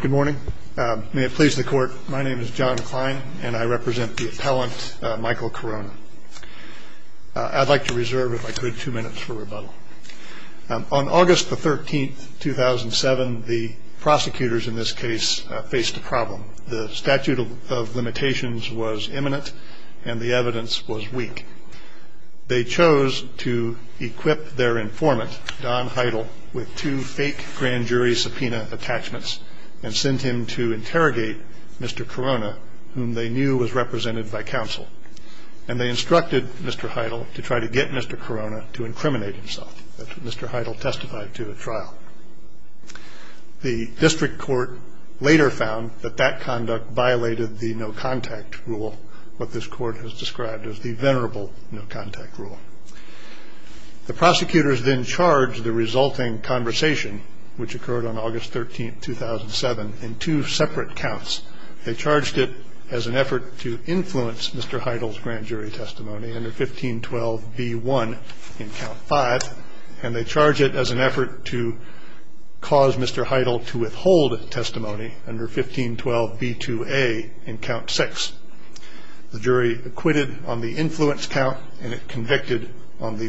Good morning. May it please the court, my name is John Klein and I represent the appellant Michael Carona. I'd like to reserve if I could two minutes for rebuttal. On August the 13th 2007 the prosecutors in this case faced a problem. The statute of limitations was imminent and the evidence was weak. They chose to equip their informant Don Heidel with two fake grand jury subpoena attachments and sent him to interrogate Mr. Carona, whom they knew was represented by counsel. And they instructed Mr. Heidel to try to get Mr. Carona to incriminate himself. Mr. Heidel testified to the trial. The district court later found that that conduct violated the no-contact rule, what this court has described as the venerable no-contact rule. The district court found that the jury acquitted the defendants on the August 13, 2007 in two separate counts. They charged it as an effort to influence Mr. Heidel's grand jury testimony under 1512 B1 in count five and they charge it as an effort to cause Mr. Heidel to withhold testimony under 1512 B2A in count six. The jury acquitted on the influence count and it convicted on the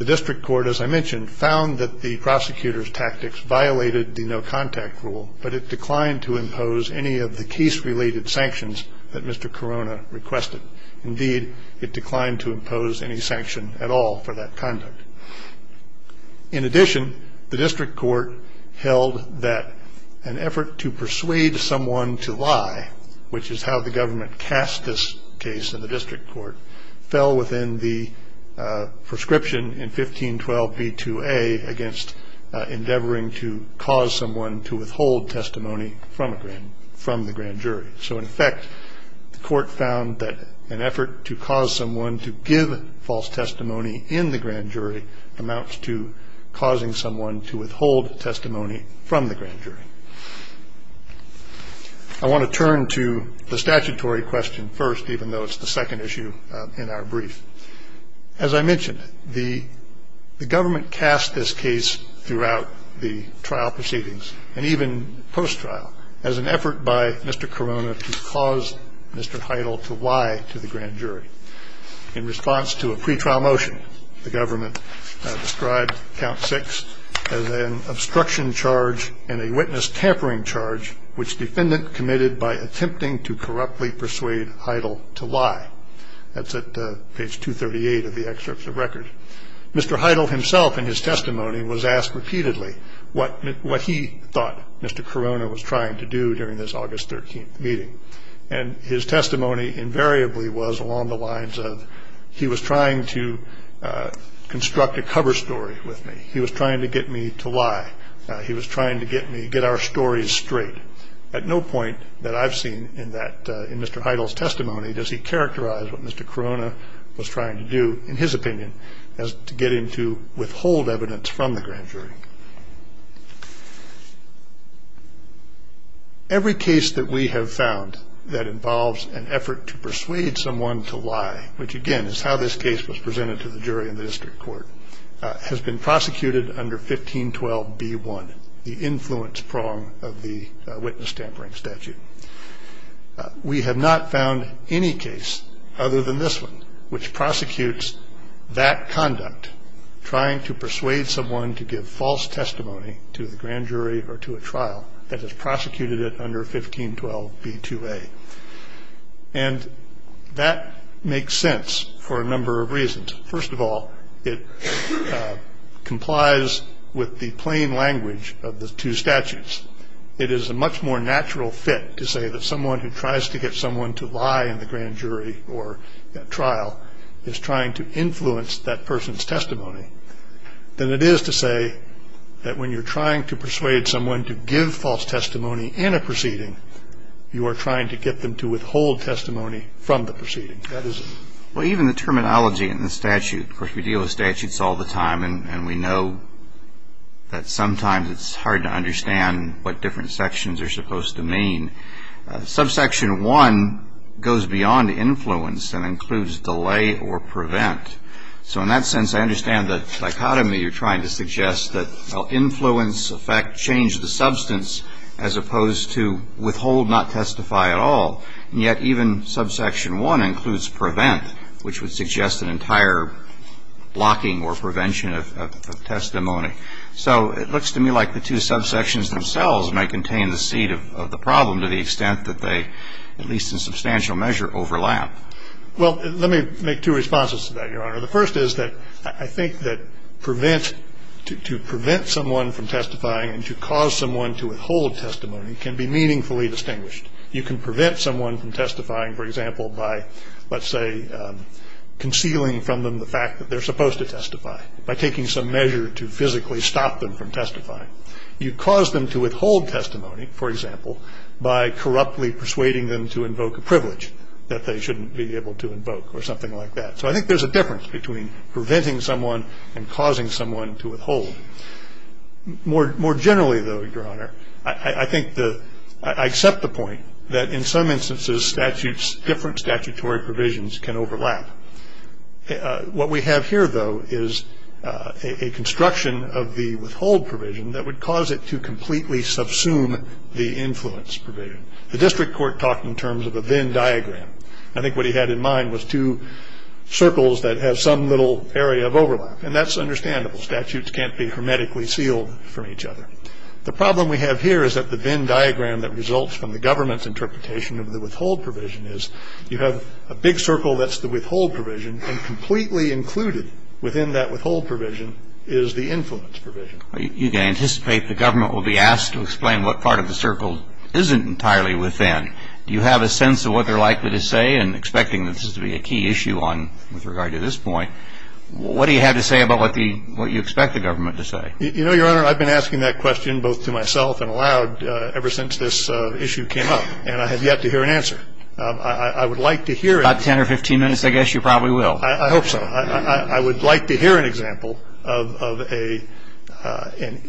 The district court, as I mentioned, found that the prosecutor's tactics violated the no-contact rule but it declined to impose any of the case-related sanctions that Mr. Carona requested. Indeed, it declined to impose any sanction at all for that conduct. In addition, the district court held that an effort to persuade someone to lie, which is how the government cast this case in the district court, fell within the prescription in 1512 B2A against endeavoring to cause someone to withhold testimony from the grand jury. So in effect, the court found that an effort to cause someone to give false testimony in the grand jury amounts to causing someone to withhold testimony from the grand jury. I want to turn to the statutory question first, even though it's the second issue in our brief. As I mentioned, the government cast this case throughout the trial proceedings and even post-trial as an effort by Mr. Carona to cause Mr. Heidel to lie to the grand jury. In response to a pretrial motion, the government described count six as an obstruction charge and a witness tampering charge, which defendant committed by attempting to corruptly persuade Heidel to lie. That's at page 238 of the excerpts of record. Mr. Heidel himself in his testimony was asked repeatedly what what he thought Mr. Carona was trying to do during this August 13th meeting. And his testimony invariably was along the lines of he was trying to construct a cover story with me. He was trying to get me to lie. He was trying to get me to get our stories straight. At no point that I've seen in that, in Mr. Heidel's testimony, does he characterize what Mr. Carona was trying to do, in his opinion, as to get him to withhold evidence from the grand jury. Every case that we have found that involves an effort to persuade someone to lie, which again is how this case was presented to the jury in the district court, has been prosecuted under 1512 B1, the influence prong of the witness tampering statute. We have not found any case other than this one, which prosecutes that conduct, trying to persuade someone to give false testimony to the grand jury or to a trial that has prosecuted it under 1512 B2A. And that makes sense for a number of reasons. First of all, it complies with the plain language of the two statutes. It is a much more natural fit to say that someone who tries to get someone to lie in the grand jury or trial is trying to influence that person's testimony than it is to say that when you're trying to persuade someone to give false testimony in a proceeding, you are trying to get them to withhold testimony from the proceeding. Well, even the terminology in the statute, of course we deal with statutes all the time and we know that sometimes it's hard to understand what different sections are supposed to mean. Subsection 1 goes beyond influence and includes delay or prevent. So in that sense, I understand the dichotomy you're trying to suggest that influence, effect, change the substance as opposed to withhold, not testify at all. And yet even subsection 1 includes prevent, which would suggest an entire blocking or prevention of testimony. So it looks to me like the two subsections themselves may contain the seed of the problem to the extent that they, at least in substantial measure, overlap. Well, let me make two responses to that, Your Honor. The first is that I think that to prevent someone from testifying and to cause someone to withhold testimony can be meaningfully distinguished. You can prevent someone from testifying, for example, by, let's say, concealing from them the fact that they're supposed to testify, by taking some measure to physically stop them from testifying. You cause them to withhold testimony, for example, by corruptly persuading them to invoke a privilege that they shouldn't be able to invoke or something like that. So I think there's a difference between preventing someone and causing someone to withhold. More generally, though, Your Honor, I think the – I accept the point that in some instances different statutory provisions can overlap. What we have here, though, is a construction of the withhold provision that would cause it to completely subsume the influence provision. The district court talked in terms of a Venn diagram. I think what he had in mind was two circles that have some little area of overlap. And that's understandable. Statutes can't be hermetically sealed from each other. The problem we have here is that the Venn diagram that results from the government's interpretation of the withhold provision is you have a big circle that's the withhold provision, and completely included within that withhold provision is the influence provision. You can anticipate the government will be asked to explain what part of the circle isn't entirely within. Do you have a sense of what they're likely to say? And expecting this to be a key issue on – with regard to this point, what do you have to say about what the – what you expect the government to say? You know, Your Honor, I've been asking that question both to myself and aloud ever since this issue came up. And I have yet to hear an answer. I would like to hear it. About 10 or 15 minutes, I guess you probably will. I hope so. I would like to hear an example of an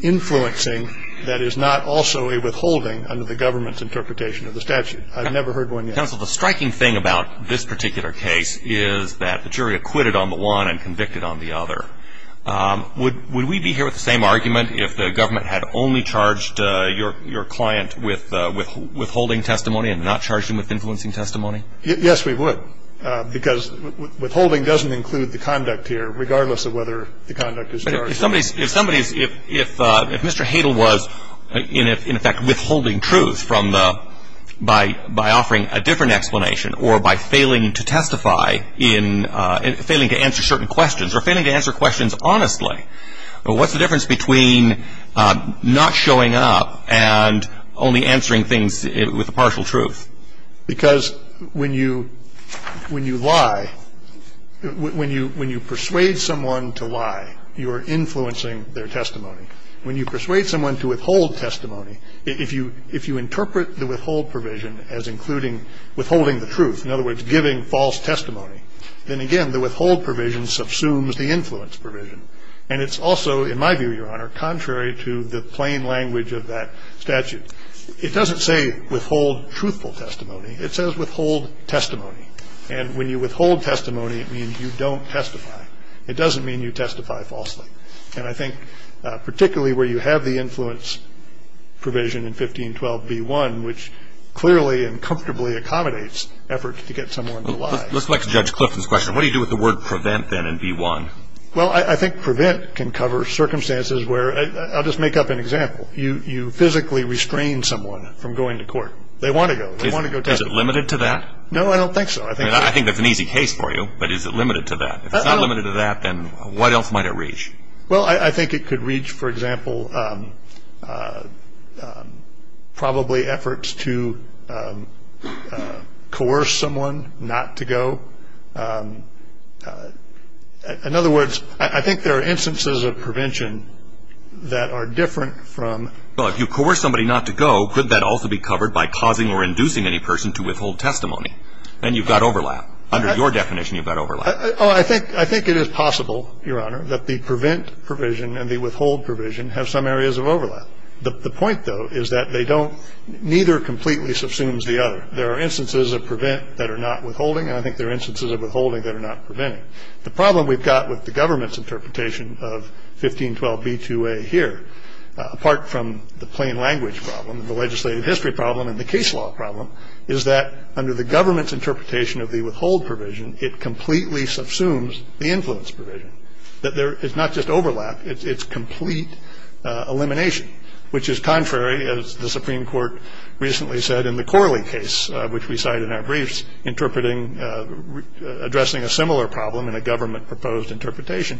influencing that is not also a withholding under the government's interpretation of the statute. I've never heard one yet. Counsel, the striking thing about this particular case is that the jury acquitted on the one and convicted on the other. Would we be here with the same argument if the government had only charged your client with withholding testimony and not charged him with influencing testimony? Yes, we would. Because withholding doesn't include the conduct here, regardless of whether the conduct is charged. But if somebody's – if somebody's – if Mr. Hadle was, in effect, withholding by offering a different explanation or by failing to testify in – failing to answer certain questions or failing to answer questions honestly, what's the difference between not showing up and only answering things with a partial truth? Because when you – when you lie – when you persuade someone to lie, you are influencing their testimony. When you persuade someone to withhold testimony, if you – if you interpret the withhold provision as including withholding the truth, in other words, giving false testimony, then again, the withhold provision subsumes the influence provision. And it's also, in my view, Your Honor, contrary to the plain language of that statute. It doesn't say withhold truthful testimony. It says withhold testimony. And when you withhold testimony, it means you don't testify. It doesn't mean you testify falsely. And I think particularly where you have the influence provision in 1512b1, which clearly and comfortably accommodates efforts to get someone to lie. Let's look at Judge Clifton's question. What do you do with the word prevent then in b1? Well, I think prevent can cover circumstances where – I'll just make up an example. You physically restrain someone from going to court. They want to go. They want to go testify. Is it limited to that? No, I don't think so. I think – I mean, I think that's an easy case for you. But is it limited to that? If it's not limited to that, then what else might it reach? Well, I think it could reach, for example, probably efforts to coerce someone not to go. In other words, I think there are instances of prevention that are different from – Well, if you coerce somebody not to go, couldn't that also be covered by causing or inducing any person to withhold testimony? And you've got overlap. Under your definition, you've got overlap. Oh, I think – I think it is possible, Your Honor, that the prevent provision and the withhold provision have some areas of overlap. The point, though, is that they don't – neither completely subsumes the other. There are instances of prevent that are not withholding, and I think there are instances of withholding that are not preventing. The problem we've got with the government's interpretation of 1512b2a here, apart from the plain language problem, the legislative history problem, and the case law problem, is that under the government's interpretation of the withhold provision, it completely subsumes the influence provision, that there is not just overlap, it's complete elimination, which is contrary, as the Supreme Court recently said in the Corley case, which we cited in our briefs, interpreting – addressing a similar problem in a government-proposed interpretation.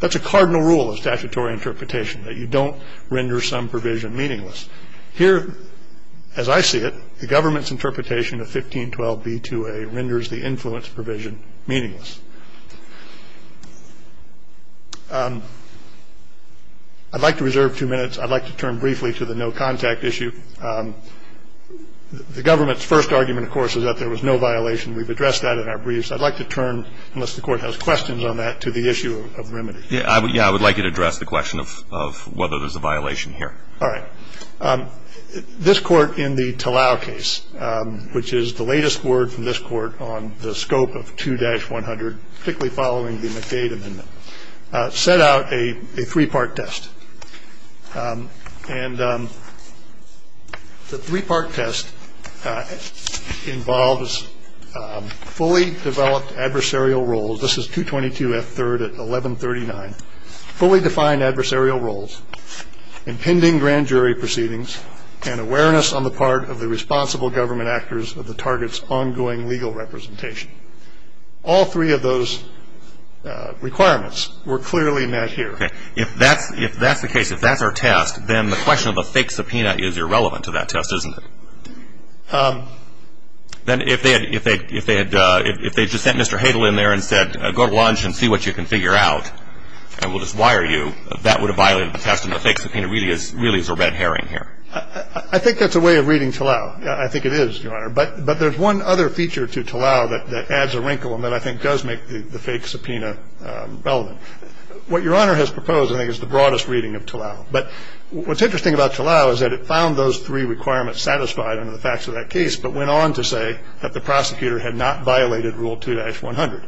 That's a cardinal rule of statutory interpretation, that you don't render some provision meaningless. Here, as I see it, the government's interpretation of 1512b2a renders the influence provision meaningless. I'd like to reserve two minutes. I'd like to turn briefly to the no-contact issue. The government's first argument, of course, is that there was no violation. We've addressed that in our briefs. I'd like to turn, unless the Court has questions on that, to the issue of remedy. Yeah, I would like you to address the question of whether there's a violation here. All right. This Court, in the Talao case, which is the latest word from this Court on the scope of 2-100, particularly following the McDade Amendment, set out a three-part test. And the three-part test involves fully developed adversarial roles – this is 222F3 at 1139 – fully defined adversarial roles, impending grand jury proceedings, and awareness on the part of the responsible government actors of the target's ongoing legal representation. All three of those requirements were clearly met here. Okay. If that's the case, if that's our test, then the question of a fake subpoena is irrelevant to that test, isn't it? Then if they had just sent Mr. Hadle in there and said, go to lunch and see what you can figure out, and we'll just wire you, that would have violated the test, and the fake subpoena really is a red herring here. I think that's a way of reading Talao. I think it is, Your Honor. But there's one other feature to Talao that adds a wrinkle and that I think does make the fake subpoena relevant. What Your Honor has proposed, I think, is the broadest reading of Talao. But what's interesting about Talao is that it found those three requirements satisfied under the facts of that case, but went on to say that the prosecutor had not violated Rule 2-100.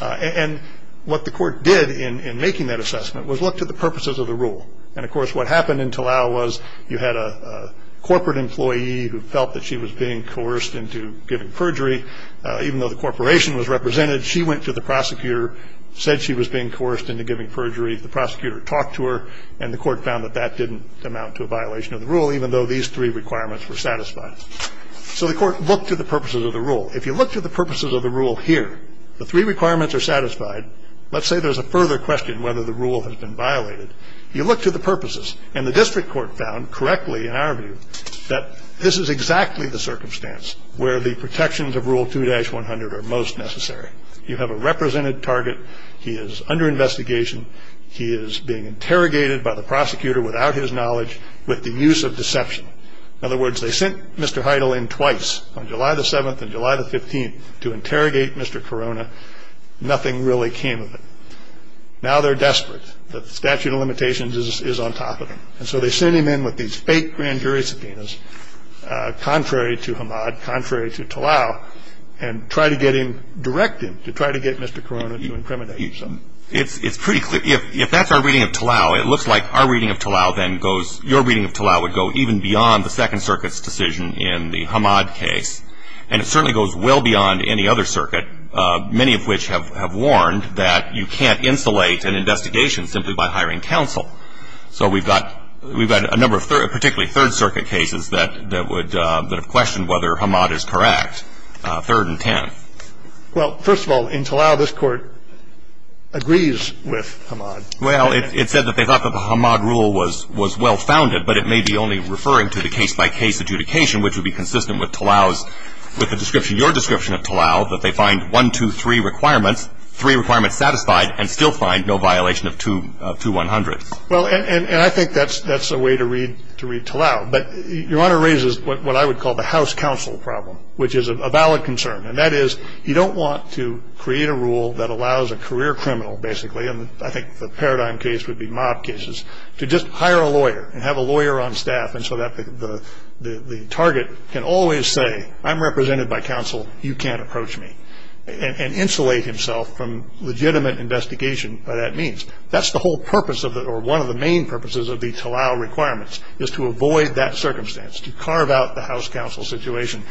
And what the Court did in making that And, of course, what happened in Talao was you had a corporate employee who felt that she was being coerced into giving perjury. Even though the corporation was represented, she went to the prosecutor, said she was being coerced into giving perjury. The prosecutor talked to her, and the Court found that that didn't amount to a violation of the rule, even though these three requirements were satisfied. So the Court looked at the purposes of the rule. If you look to the purposes of the rule here, the three requirements are satisfied. Let's say there's a further question whether the rule has been violated. You look to the purposes, and the District Court found correctly, in our view, that this is exactly the circumstance where the protections of Rule 2-100 are most necessary. You have a represented target. He is under investigation. He is being interrogated by the prosecutor without his knowledge, with the use of deception. In other words, they sent Mr. Heidel in twice, on July the 7th and July the 15th, to interrogate him. Now they're desperate. The statute of limitations is on top of them. And so they sent him in with these fake grand jury subpoenas, contrary to Hamad, contrary to Talal, and try to get him, direct him, to try to get Mr. Corona to incriminate him. It's pretty clear. If that's our reading of Talal, it looks like our reading of Talal then goes, your reading of Talal would go even beyond the Second Circuit's decision in the Hamad case. And it certainly goes well beyond any other circuit, many of which have warned that you can't insulate an investigation simply by hiring counsel. So we've got a number of, particularly Third Circuit cases, that would question whether Hamad is correct, Third and Tenth. Well, first of all, in Talal, this Court agrees with Hamad. Well, it said that they thought that the Hamad rule was well-founded, but it may be only referring to the case-by-case adjudication, which would be consistent with Talal's, with the description, your description of Talal, that they find one, two, three requirements, three requirements satisfied, and still find no violation of 2-100. Well, and I think that's a way to read Talal. But your Honor raises what I would call the House counsel problem, which is a valid concern. And that is, you don't want to create a rule that allows a career criminal, basically, and I think the paradigm case would be mob cases, to just always say, I'm represented by counsel, you can't approach me, and insulate himself from legitimate investigation by that means. That's the whole purpose of the, or one of the main purposes of the Talal requirements, is to avoid that circumstance, to carve out the House counsel situation,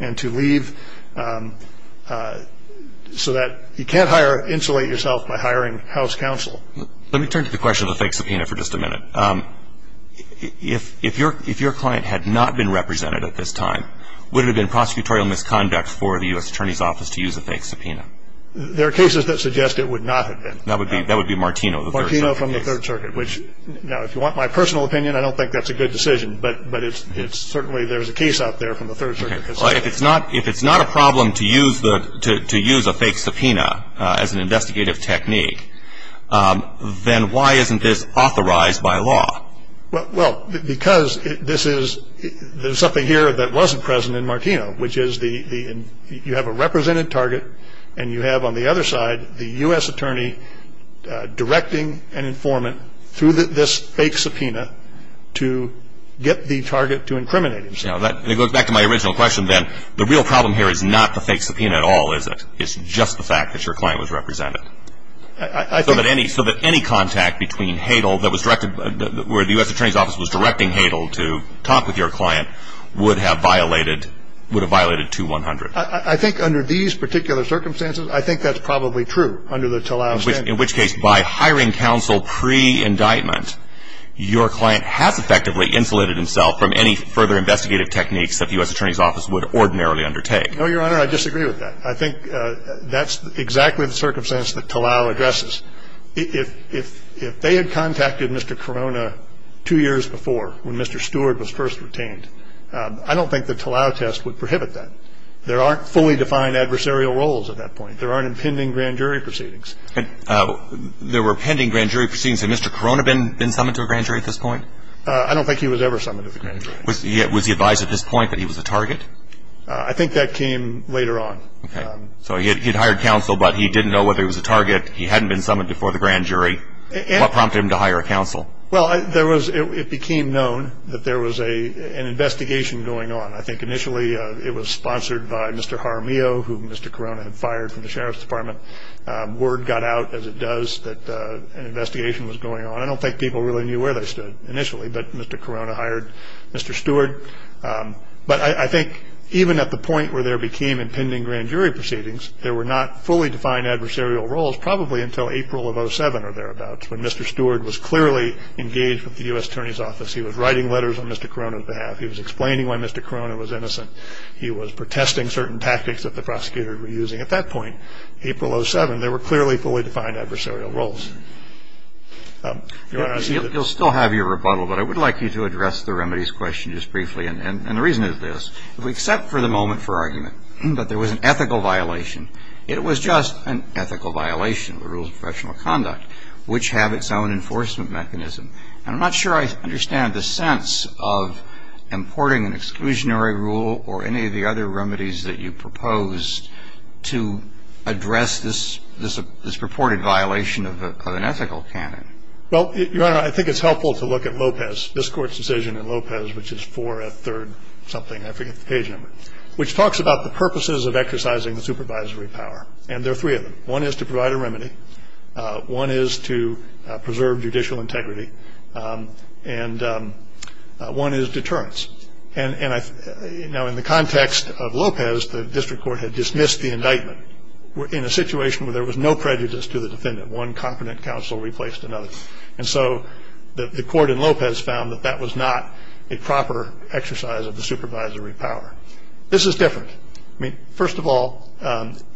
and to leave, so that you can't hire, insulate yourself by hiring House counsel. Let me turn to the question of the fake subpoena for just a minute. If your client had not been represented at this time, would it have been prosecutorial misconduct for the U.S. Attorney's Office to use a fake subpoena? There are cases that suggest it would not have been. That would be Martino, the first- Martino from the Third Circuit, which, now, if you want my personal opinion, I don't think that's a good decision, but it's certainly, there's a case out there from the Third Circuit. If it's not a problem to use a fake subpoena as an investigative technique, then why isn't this authorized by law? Well, because this is, there's something here that wasn't present in Martino, which is the, you have a represented target, and you have, on the other side, the U.S. Attorney directing an informant through this fake subpoena to get the target to incriminate himself. Now, that goes back to my original question, then. The real problem here is not the fake subpoena at all. It's just the fact that your client was represented. I think- So that any contact between Hadle that was directed, where the U.S. Attorney's Office was directing Hadle to talk with your client would have violated 2-100. I think, under these particular circumstances, I think that's probably true, under the Tlaib standard. In which case, by hiring counsel pre-indictment, your client has effectively insulated himself from any further investigative techniques that the U.S. Attorney's Office would ordinarily undertake. No, Your Honor, I disagree with that. I think that's exactly the circumstance that Tlaib addresses. If they had contacted Mr. Corona two years before, when Mr. Stewart was first retained, I don't think the Tlaib test would prohibit that. There aren't fully defined adversarial roles at that point. There aren't impending grand jury proceedings. And there were pending grand jury proceedings. Had Mr. Corona been summoned to a grand jury at this point? I don't think he was ever summoned to a grand jury. Was he advised at this point that he was a target? I think that came later on. So he had hired counsel, but he didn't know whether he was a target. He hadn't been summoned before the grand jury. What prompted him to hire counsel? Well, it became known that there was an investigation going on. I think initially, it was sponsored by Mr. Jaramillo, who Mr. Corona had fired from the Sheriff's Department. Word got out, as it does, that an investigation was going on. I don't think people really knew where they stood initially. But Mr. Corona hired Mr. Stewart. But I think even at the point where there became impending grand jury proceedings, there were not fully defined adversarial roles probably until April of 07 or thereabouts, when Mr. Stewart was clearly engaged with the U.S. Attorney's Office. He was writing letters on Mr. Corona's behalf. He was explaining why Mr. Corona was innocent. He was protesting certain tactics that the prosecutor were using. At that point, April 07, there were clearly fully defined adversarial roles. Your Honor, I see that- You'll still have your rebuttal. But I would like you to address the remedies question just briefly. And the reason is this. If we accept for the moment for argument that there was an ethical violation, it was just an ethical violation of the rules of professional conduct, which have its own enforcement mechanism. And I'm not sure I understand the sense of importing an exclusionary rule or any of the other remedies that you proposed to address this purported violation of an ethical canon. Well, Your Honor, I think it's helpful to look at Lopez, this Court's decision in Lopez, which is 4F 3rd something, I forget the page number, which talks about the purposes of exercising the supervisory power. And there are three of them. One is to provide a remedy. One is to preserve judicial integrity, and one is deterrence. And now in the context of Lopez, the district court had dismissed the indictment in a situation where there was no prejudice to the defendant. One competent counsel replaced another. And so the court in Lopez found that that was not a proper exercise of the supervisory power. This is different. I mean, first of all,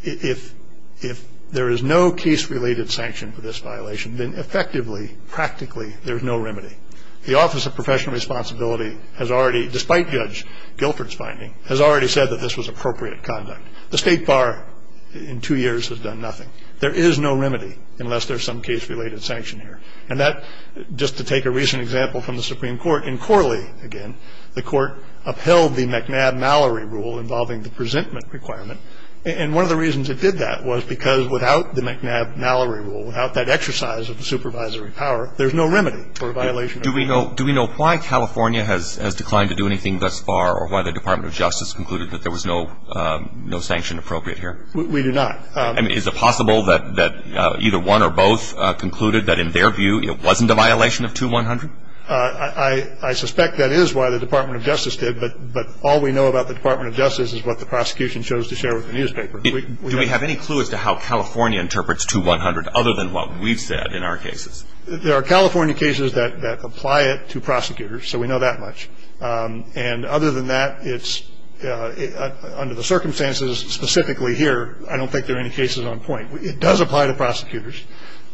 if there is no case-related sanction for this violation, then effectively, practically, there's no remedy. The Office of Professional Responsibility has already, despite Judge Guilford's finding, has already said that this was appropriate conduct. The state bar, in two years, has done nothing. There is no remedy unless there's some case-related sanction here. And that, just to take a recent example from the Supreme Court, in Corley again, the court upheld the McNabb-Mallory rule involving the presentment requirement. And one of the reasons it did that was because without the McNabb-Mallory rule, without that exercise of the supervisory power, there's no remedy for a violation. Do we know why California has declined to do anything thus far, or why the Department of Justice concluded that there was no sanction appropriate here? We do not. I mean, is it possible that either one or both concluded that, in their view, it wasn't a violation of 2-100? I suspect that is why the Department of Justice did, but all we know about the Department of Justice is what the prosecution chose to share with the newspaper. Do we have any clue as to how California interprets 2-100, other than what we've said in our cases? There are California cases that apply it to prosecutors, so we know that much. And other than that, it's, under the circumstances specifically here, I don't think there are any cases on point. It does apply to prosecutors.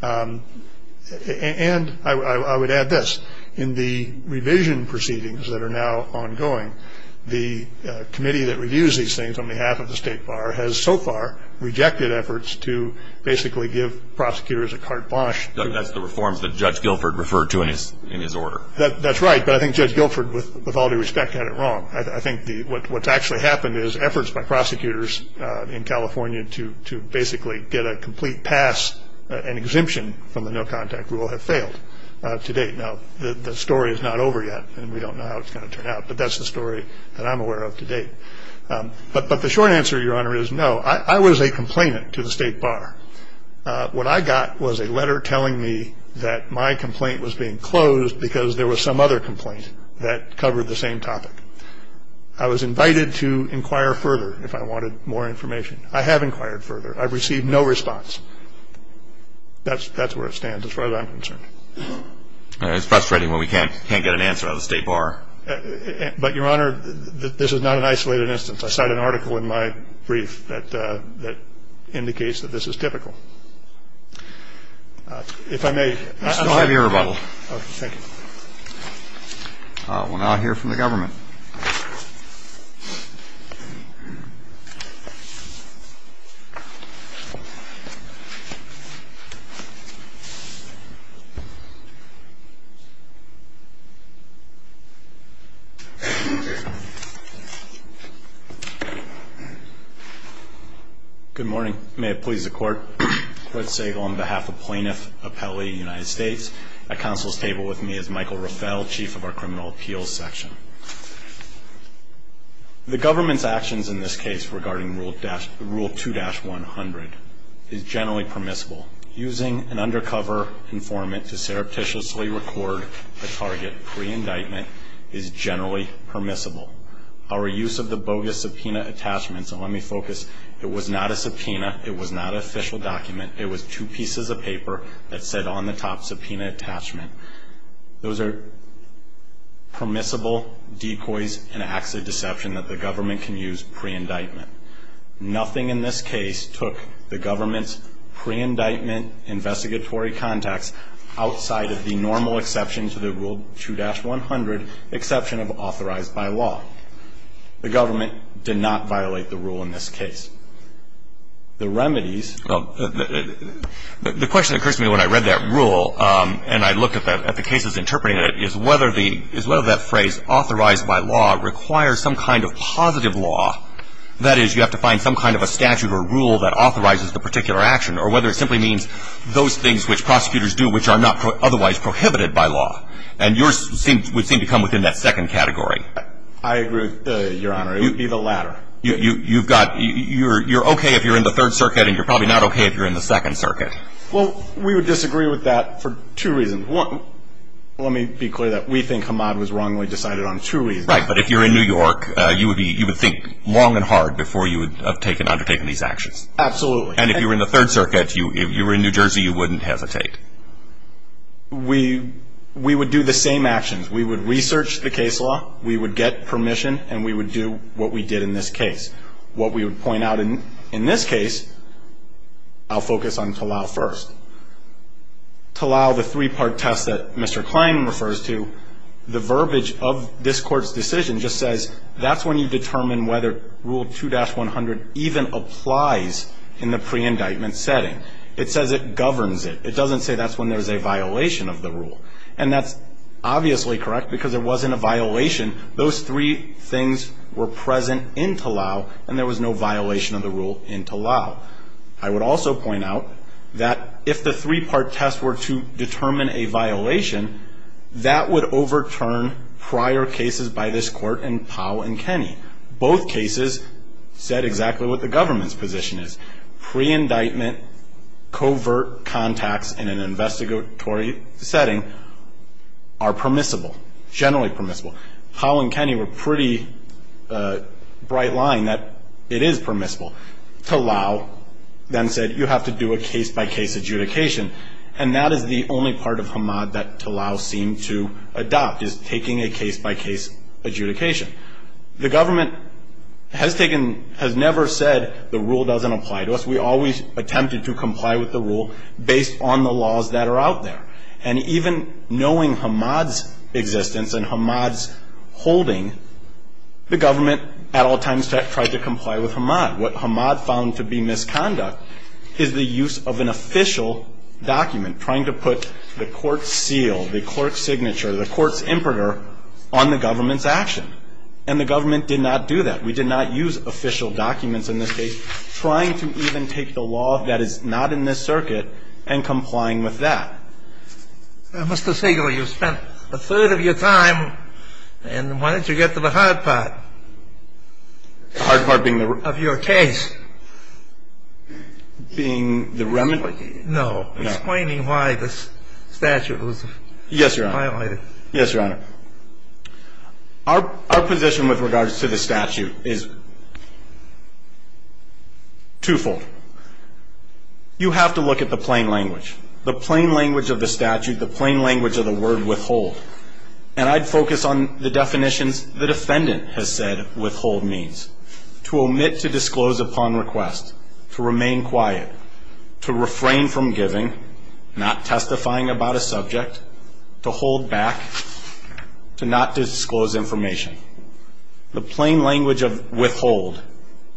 And I would add this. In the revision proceedings that are now ongoing, the committee that reviews these things on behalf of the State Bar has so far rejected efforts to basically give prosecutors a carte blanche. That's the reforms that Judge Guilford referred to in his order. That's right, but I think Judge Guilford, with all due respect, had it wrong. I think what's actually happened is efforts by prosecutors in California to basically get a complete pass, an exemption from the no contact rule, have failed to date. Now, the story is not over yet, and we don't know how it's gonna turn out, but that's the story that I'm aware of to date. But the short answer, Your Honor, is no. I was a complainant to the State Bar. What I got was a letter telling me that my complaint was being closed because there was some other complaint that covered the same topic. I was invited to inquire further if I wanted more information. I have inquired further. I've received no response. That's where it stands, as far as I'm concerned. It's frustrating when we can't get an answer out of the State Bar. But, Your Honor, this is not an isolated instance. I cite an article in my brief that indicates that this is typical. If I may. I still have your rebuttal. Okay, thank you. We'll now hear from the government. Good morning. May it please the court. Quirt Sagel on behalf of Plaintiff Appellee United States. At counsel's table with me is Michael Raffel, Chief of our Criminal Appeals Section. The government's actions in this case regarding Rule 2-100 is generally permissible. Using an undercover informant to surreptitiously record a target pre-indictment is generally permissible. Our use of the bogus subpoena attachments, and let me focus. It was not a subpoena. It was not an official document. It was two pieces of paper that said on the top, subpoena attachment. Those are permissible decoys and acts of deception that the government can use pre-indictment. Nothing in this case took the government's pre-indictment investigatory context outside of the normal exception to the Rule 2-100, exception of authorized by law. The government did not violate the rule in this case. The remedies. The question that occurs to me when I read that rule, and I looked at the cases interpreting it, is whether that phrase authorized by law requires some kind of positive law, that is, you have to find some kind of a statute or rule that authorizes the particular action, or whether it simply means those things which prosecutors do which are not otherwise prohibited by law, and yours would seem to come within that second category. I agree, Your Honor, it would be the latter. You've got, you're okay if you're in the Third Circuit, and you're probably not okay if you're in the Second Circuit. Well, we would disagree with that for two reasons. One, let me be clear that we think Hamad was wrongly decided on two reasons. Right, but if you're in New York, you would think long and hard before you would have undertaken these actions. Absolutely. And if you were in the Third Circuit, if you were in New Jersey, you wouldn't hesitate. We would do the same actions. We would research the case law, we would get permission, and we would do what we did in this case. What we would point out in this case, I'll focus on Talal first. Talal, the three-part test that Mr. Klein refers to, the verbiage of this court's decision just says, that's when you determine whether Rule 2-100 even applies in the pre-indictment setting. It says it governs it. It doesn't say that's when there's a violation of the rule. And that's obviously correct, because there wasn't a violation. Those three things were present in Talal, and there was no violation of the rule in Talal. I would also point out that if the three-part test were to determine a violation, that would overturn prior cases by this court in Powell and Kenney. Both cases said exactly what the government's position is. Pre-indictment, covert contacts in an investigatory setting are permissible, generally permissible. Powell and Kenney were pretty bright line that it is permissible. Talal then said, you have to do a case-by-case adjudication. And that is the only part of Hamad that Talal seemed to adopt, is taking a case-by-case adjudication. The government has never said the rule doesn't apply to us. We always attempted to comply with the rule based on the laws that are out there. And even knowing Hamad's existence and Hamad's holding, the government at all times tried to comply with Hamad. What Hamad found to be misconduct is the use of an official document, trying to put the court's seal, the court's signature, the court's imperator on the government's action. And the government did not do that. We did not use official documents in this case, trying to even take the law that is not in this circuit and complying with that. Mr. Sigler, you've spent a third of your time, and why don't you get to the hard part? The hard part being the re? Of your case. Being the remedy? Explaining why the statute was violated. Yes, Your Honor. Yes, Your Honor. Our position with regards to the statute is twofold. You have to look at the plain language, the plain language of the statute, the plain language of the word withhold. And I'd focus on the definitions the defendant has said withhold means. To omit to disclose upon request. To remain quiet. To refrain from giving. Not testifying about a subject. To hold back. To not disclose information. The plain language of withhold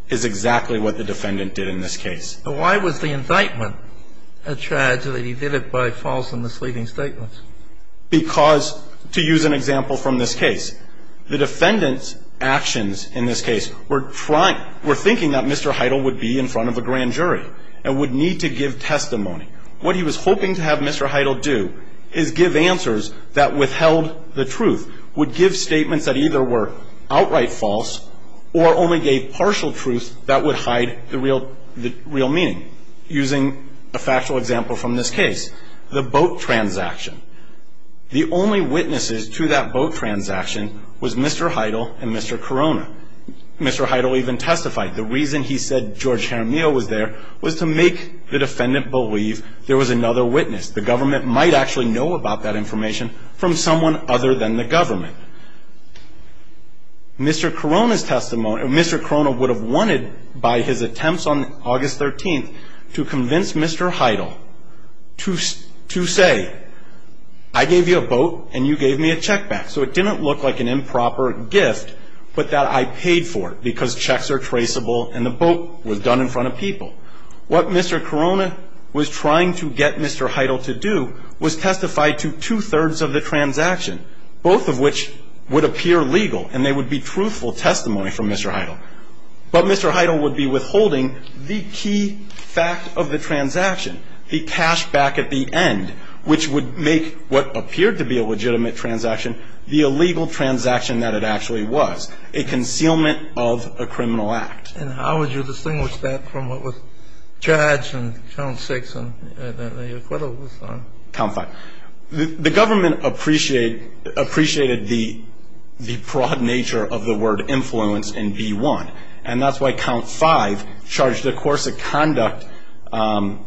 is exactly what the defendant did in this case. But why was the indictment a charge that he did it by false and misleading statements? Because, to use an example from this case, the defendant's actions in this case were thinking that Mr. Heidel would be in front of a grand jury and would need to give testimony. What he was hoping to have Mr. Heidel do is give answers that withheld the truth. Would give statements that either were outright false or only gave partial truth that would hide the real meaning. Using a factual example from this case, the boat transaction. The only witnesses to that boat transaction was Mr. Heidel and Mr. Corona. Mr. Heidel even testified. The reason he said George Jaramillo was there was to make the defendant believe there was another witness. The government might actually know about that information from someone other than the government. Mr. Corona's testimony, Mr. Corona would have wanted by his attempts on August 13th to convince Mr. Heidel to say, I gave you a boat and you gave me a check back. So it didn't look like an improper gift, but that I paid for it because checks are and the boat was done in front of people. What Mr. Corona was trying to get Mr. Heidel to do was testify to two-thirds of the transaction, both of which would appear legal and they would be truthful testimony from Mr. Heidel. But Mr. Heidel would be withholding the key fact of the transaction, the cash back at the end, which would make what appeared to be a legitimate transaction, the illegal transaction that it actually was. A concealment of a criminal act. And how would you distinguish that from what was charged in count six? Count five. The government appreciated the broad nature of the word influence in B1. And that's why count five charged a course of conduct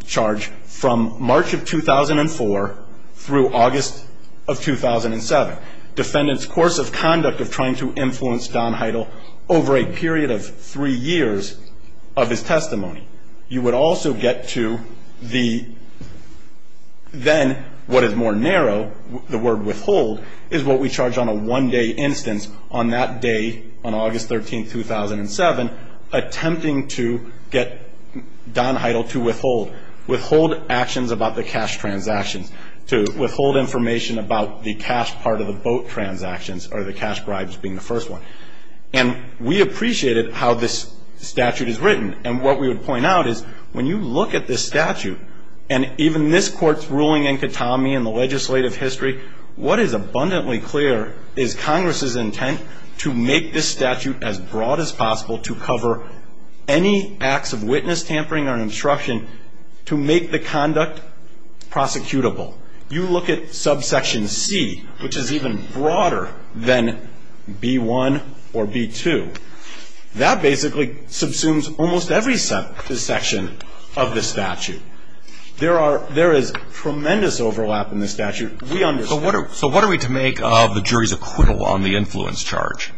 charge from March of 2004 through August of 2007. Defendant's course of conduct of trying to influence Don Heidel over a period of three years of his testimony. You would also get to the, then what is more narrow, the word withhold is what we charge on a one day instance on that day, on August 13th, 2007, attempting to get Don Heidel to withhold. Withhold actions about the cash transactions. To withhold information about the cash part of the boat transactions or the cash bribes being the first one. And we appreciated how this statute is written. And what we would point out is, when you look at this statute, and even this court's ruling in Katami and the legislative history, what is abundantly clear is Congress's intent to make this statute as broad as possible to cover any acts of witness tampering or obstruction to make the conduct prosecutable. You look at subsection C, which is even broader than B1 or B2. That basically subsumes almost every section of the statute. There is tremendous overlap in the statute. We understand. So what are we to make of the jury's acquittal on the influence charge?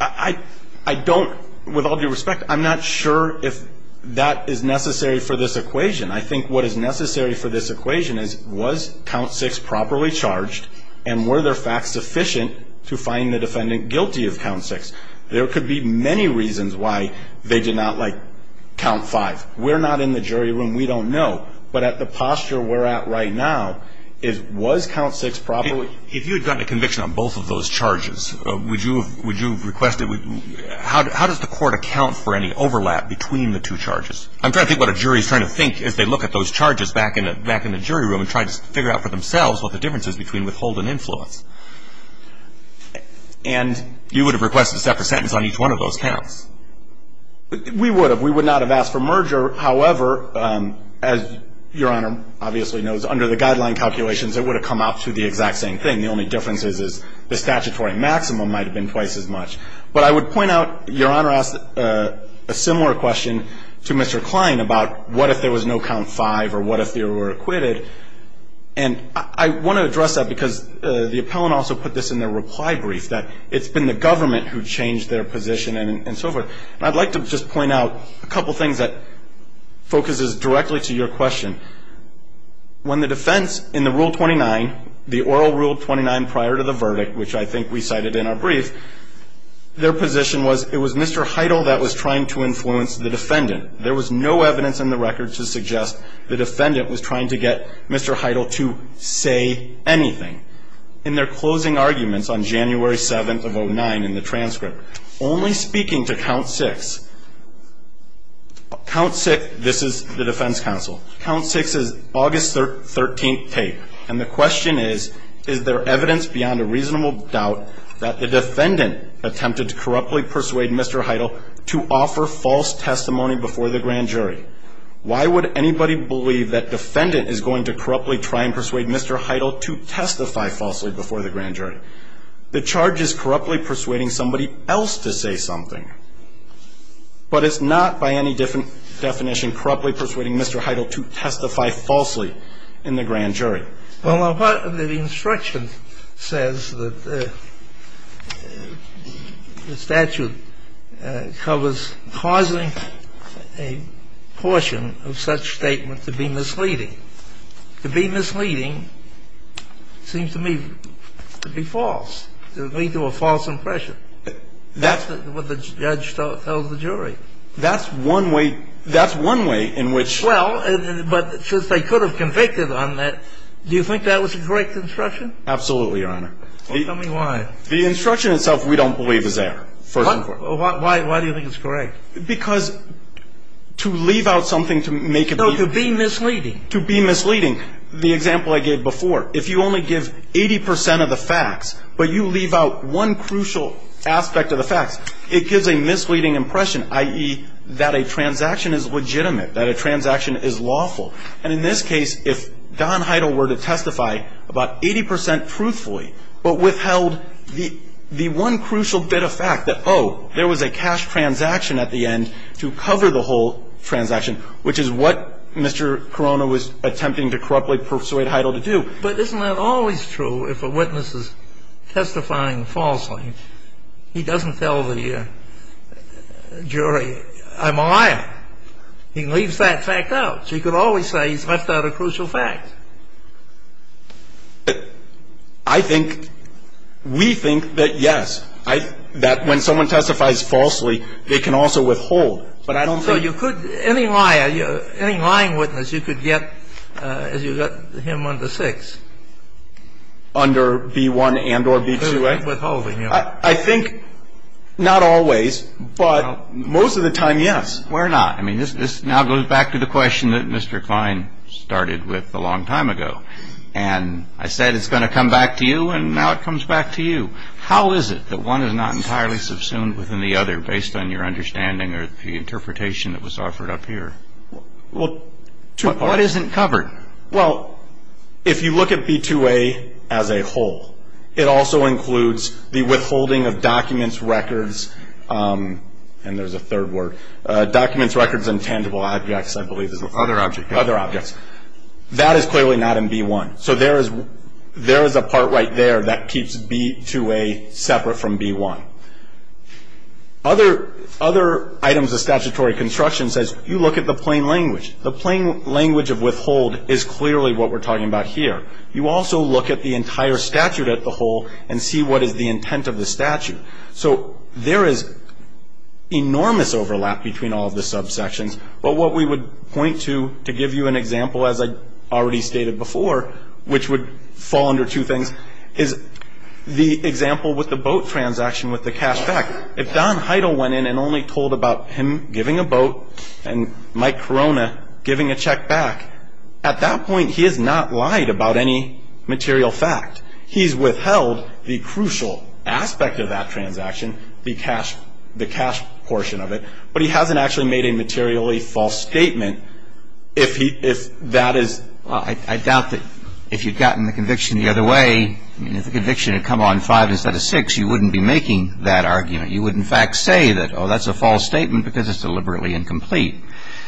I don't, with all due respect, I'm not sure if that is necessary for this equation. I think what is necessary for this equation is, was count six properly charged? And were there facts sufficient to find the defendant guilty of count six? There could be many reasons why they did not like count five. We're not in the jury room, we don't know. But at the posture we're at right now, was count six properly- If you had gotten a conviction on both of those charges, would you have requested, how does the court account for any overlap between the two charges? I'm trying to think what a jury is trying to think as they look at those charges back in the jury room and try to figure out for themselves what the difference is between withhold and influence. And you would have requested a separate sentence on each one of those counts. We would have. We would not have asked for merger. However, as Your Honor obviously knows, under the guideline calculations, it would have come out to the exact same thing. The only difference is the statutory maximum might have been twice as much. But I would point out, Your Honor asked a similar question to Mr. Klein about what if there was no count five or what if they were acquitted. And I want to address that because the appellant also put this in their reply brief, that it's been the government who changed their position and so forth. I'd like to just point out a couple things that focuses directly to your question. When the defense in the Rule 29, the oral Rule 29 prior to the verdict, which I think we cited in our brief, their position was, it was Mr. Heidel that was trying to influence the defendant. There was no evidence in the record to suggest the defendant was trying to get Mr. Heidel to say anything. In their closing arguments on January 7th of 09 in the transcript, only speaking to count six, count six, this is the defense counsel. Count six is August 13th tape. And the question is, is there evidence beyond a reasonable doubt that the defendant attempted to corruptly persuade Mr. Heidel to offer false testimony before the grand jury? Why would anybody believe that defendant is going to corruptly try and persuade Mr. Heidel to testify falsely before the grand jury? The charge is corruptly persuading somebody else to say something. But it's not by any different definition corruptly persuading Mr. Heidel to testify falsely in the grand jury. Well, the instruction says that the statute covers causing a portion of such statement to be misleading. To be misleading seems to me to be false. It would lead to a false impression. That's what the judge tells the jury. That's one way in which… Well, but since they could have convicted on that, do you think that was the correct instruction? Absolutely, Your Honor. Well, tell me why. The instruction itself we don't believe is there. Why do you think it's correct? Because to leave out something to make it… No, to be misleading. To be misleading, the example I gave before, if you only give 80 percent of the facts, but you leave out one crucial aspect of the facts, it gives a misleading impression, i.e., that a transaction is legitimate, that a transaction is lawful. And in this case, if Don Heidel were to testify about 80 percent truthfully, but withheld the one crucial bit of fact that, oh, there was a cash transaction at the end to cover the whole transaction, which is what Mr. Corona was attempting to corruptly persuade Heidel to do. But isn't that always true if a witness is testifying falsely? He doesn't tell the jury, I'm a liar. He leaves that fact out. So you could always say he's left out a crucial fact. I think… We think that, yes, that when someone testifies falsely, they can also withhold. But I don't think… So you could, any liar, any lying witness, you could get, as you got him under six. Under B1 and or B2A? Withholding, yes. I think not always, but most of the time, yes. Why not? I mean, this now goes back to the question that Mr. Klein started with a long time ago. And I said it's going to come back to you, and now it comes back to you. How is it that one is not entirely subsumed within the other based on your understanding or the interpretation that was offered up here? Well, two parts. What isn't covered? Well, if you look at B2A as a whole, it also includes the withholding of documents, records, and there's a third word, documents, records, and tangible objects, I believe. Other objects. Other objects. That is clearly not in B1. So there is a part right there that keeps B2A separate from B1. Other items of statutory construction says you look at the plain language. The plain language of withhold is clearly what we're talking about here. You also look at the entire statute as a whole and see what is the intent of the statute. So there is enormous overlap between all of the subsections. But what we would point to to give you an example, as I already stated before, which would fall under two things, is the example with the boat transaction with the cash back. If Don Heidel went in and only told about him giving a boat and Mike Corona giving a check back, at that point he has not lied about any material fact. He's withheld the crucial aspect of that transaction, the cash portion of it, but he hasn't actually made a materially false statement. If that is... Well, I doubt that if you'd gotten the conviction the other way, if the conviction had come on five instead of six, you wouldn't be making that argument. You would, in fact, say that, oh, that's a false statement because it's deliberately incomplete.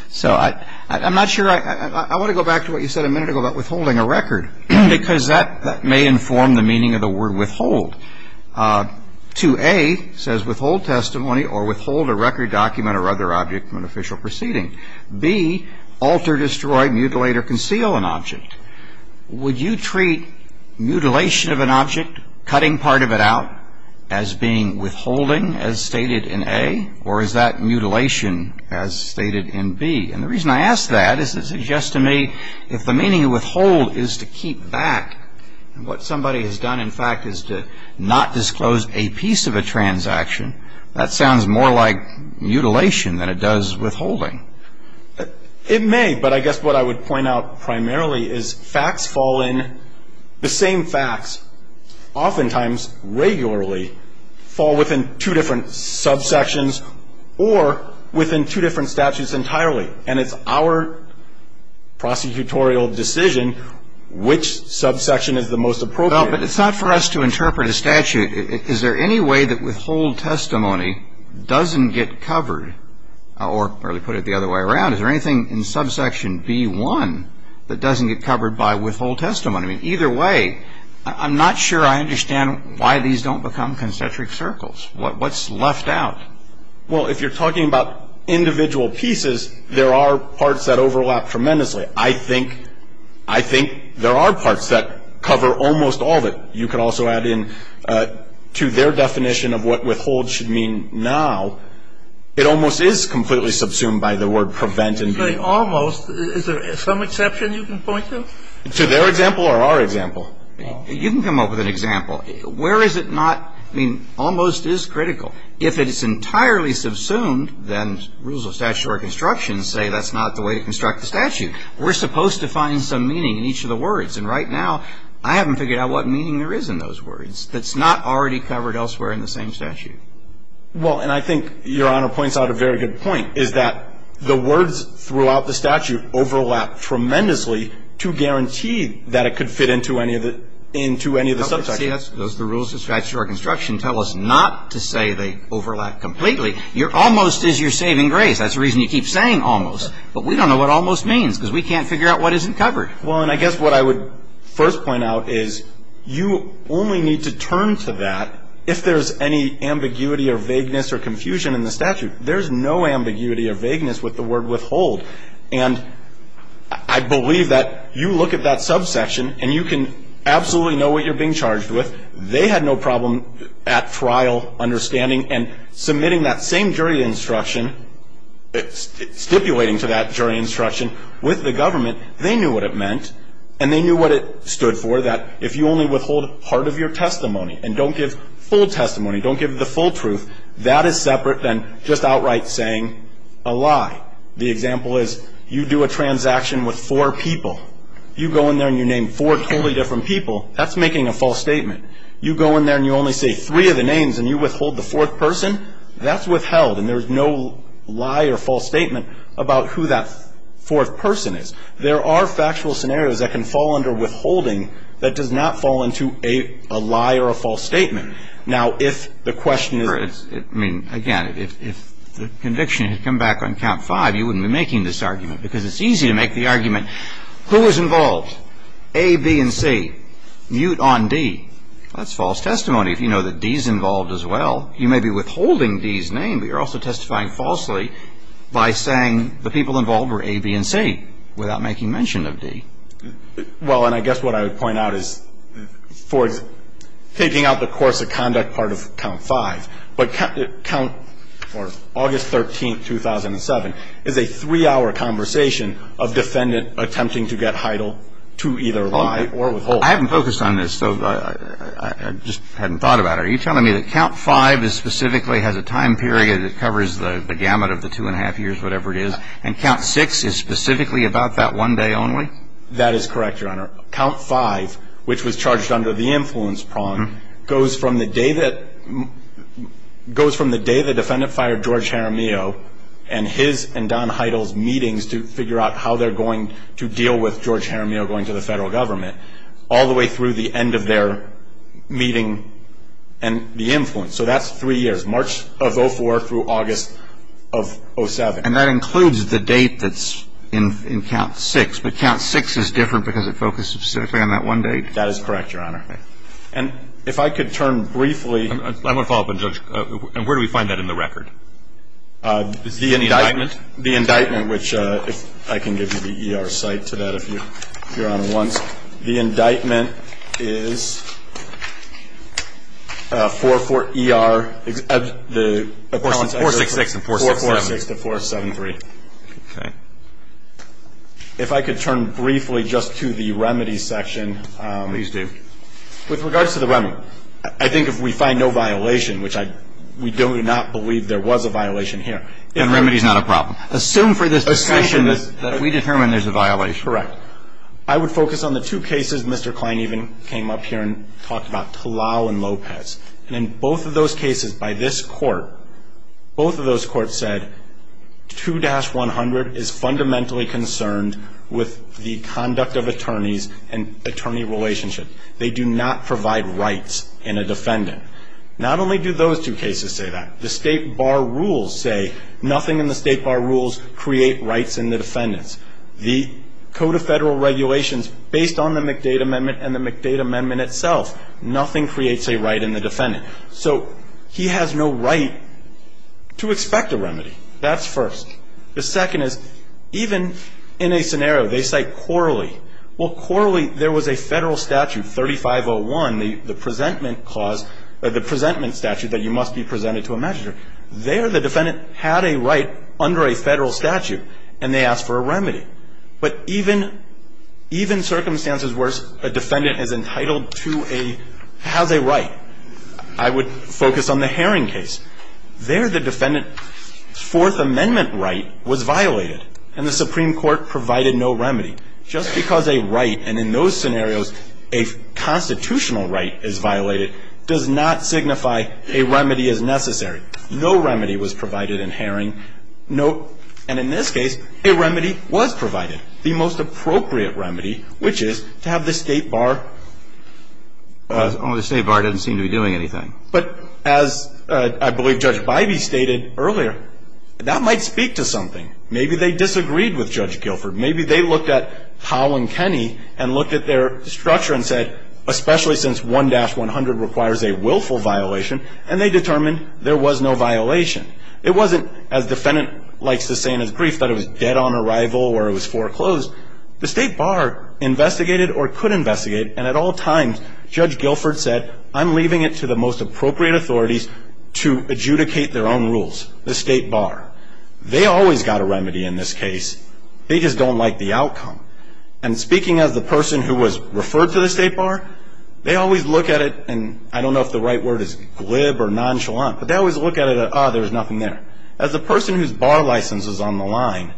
So I'm not sure... I want to go back to what you said a minute ago about withholding a record because that may inform the meaning of the word withhold. 2A says withhold testimony or withhold a record, document, or other object from an official proceeding. B, alter, destroy, mutilate, or conceal an object. Would you treat mutilation of an object, cutting part of it out, as being withholding as stated in A? Or is that mutilation as stated in B? And the reason I ask that is it suggests to me if the meaning of withhold is to keep back, what somebody has done, in fact, is to not disclose a piece of a transaction, that sounds more like mutilation than it does withholding. It may. But I guess what I would point out primarily is facts fall in. The same facts oftentimes regularly fall within two different subsections or within two different statutes entirely. And it's our prosecutorial decision which subsection is the most appropriate. But it's not for us to interpret a statute. Is there any way that withhold testimony doesn't get covered, or to put it the other way around, is there anything in subsection B1 that doesn't get covered by withhold testimony? Either way, I'm not sure I understand why these don't become concentric circles. What's left out? Well, if you're talking about individual pieces, there are parts that overlap tremendously. I think there are parts that cover almost all of it. You can also add in to their definition of what withhold should mean now. It almost is completely subsumed by the word prevent and be. Almost? Is there some exception you can point to? To their example or our example? You can come up with an example. Where is it not? I mean, almost is critical. If it is entirely subsumed, then rules of statutory construction say that's not the way to construct the statute. We're supposed to find some meaning in each of the words. And right now, I haven't figured out what meaning there is in those words that's not already covered elsewhere in the same statute. Well, and I think Your Honor points out a very good point, is that the words throughout the statute overlap tremendously to guarantee that it could fit into any of the subsections. Those rules of statutory construction tell us not to say they overlap completely. Almost is your saving grace. That's the reason you keep saying almost. But we don't know what almost means because we can't figure out what isn't covered. Well, and I guess what I would first point out is you only need to turn to that if there's any ambiguity or vagueness or confusion in the statute. There's no ambiguity or vagueness with the word withhold. And I believe that you look at that subsection and you can absolutely know what you're being charged with. They had no problem at trial understanding and submitting that same jury instruction, stipulating to that jury instruction with the government. They knew what it meant and they knew what it stood for that if you only withhold part of your testimony and don't give full testimony, don't give the full truth, that is separate than just outright saying a lie. The example is you do a transaction with four people. You go in there and you name four totally different people, that's making a false statement. You go in there and you only say three of the names and you withhold the fourth person, that's withheld. And there's no lie or false statement about who that fourth person is. There are factual scenarios that can fall under withholding that does not fall into a lie or a false statement. Now, if the question is... I mean, again, if the conviction had come back on count five, you wouldn't be making this argument because it's easy to make the argument, who was involved, A, B, and C? Mute on D. That's false testimony if you know that D's involved as well. You may be withholding D's name, but you're also testifying falsely by saying the people involved were A, B, and C without making mention of D. Well, and I guess what I would point out is for taking out the course of conduct part of count five, but count August 13, 2007, is a three-hour conversation of defendant attempting to get Heidel to either lie or withhold. I haven't focused on this, so I just hadn't thought about it. Are you telling me that count five specifically has a time period that covers the gamut of the two and a half years, whatever it is, and count six is specifically about that one day only? That is correct, Your Honor. Count five, which was charged under the influence prong, goes from the day that the defendant fired George Jaramillo and his and Don Heidel's meetings to figure out how they're going to deal with George Jaramillo going to the federal government all the way through the end of their meeting and the influence. So that's three years, March of 2004 through August of 2007. And that includes the date that's in count six, but count six is different because it focuses specifically on that one date? That is correct, Your Honor. And if I could turn briefly... I'm going to follow up on Judge, and where do we find that in the record? The indictment. The indictment, which I can give you the ER site to that if Your Honor wants. The indictment is 4-4-ER 4-6-6 and 4-7-3. 4-4-6 to 4-7-3. Okay. If I could turn briefly just to the remedies section... Please do. With regards to the remedy, I think if we find no violation, which we do not believe there was a violation here... Then remedy's not a problem. Assume for this discussion that we determine there's a violation. Correct. I would focus on the two cases Mr. Klein even came up here and talked about, Talal and Lopez. And in both of those cases by this court, both of those courts said 2-100 is fundamentally concerned with the conduct of attorneys and attorney relationship. They do not provide rights in a defendant. Not only do those two cases say that, the State Bar rules say nothing in the State Bar rules create rights in the defendants. The Code of Federal Regulations, based on the McDade Amendment and the McDade Amendment itself, nothing creates a right in the defendant. So he has no right to expect a remedy. That's first. The second is, even in a scenario, they cite Corley. Well, Corley, there was a federal statute, 3501, the presentment clause, the presentment statute that you must be presented to a magistrate. There the defendant had a right under a federal statute and they asked for a remedy. But even circumstances worse, a defendant has a right. I would focus on the Herring case. There the defendant's Fourth Amendment right was violated and the Supreme Court provided no remedy. Just because a right, and in those scenarios, a constitutional right is violated, does not signify a remedy is necessary. No remedy was provided in Herring. And in this case, a remedy was provided. The most appropriate remedy, which is to have the State Bar Oh, the State Bar doesn't seem to be doing anything. But as I believe Judge Bybee stated earlier, that might speak to something. Maybe they disagreed with Judge Guilford. Maybe they looked at Powell and Kenney and looked at their structure and said, especially since 1-100 requires a willful violation, and they determined there was no violation. It wasn't, as the defendant likes to say in his brief, that it was dead on arrival or it was foreclosed. The State Bar investigated or could investigate and at all times, Judge Guilford said I'm leaving it to the most appropriate authorities to adjudicate their own rules, the State Bar. They always got a remedy in this case. They just don't like the outcome. And speaking as the person who was referred to the State Bar, they always look at it, and I don't know if the right word is glib or nonchalant, but they always look at it as, oh, there's nothing there. As the person whose bar license is on the line,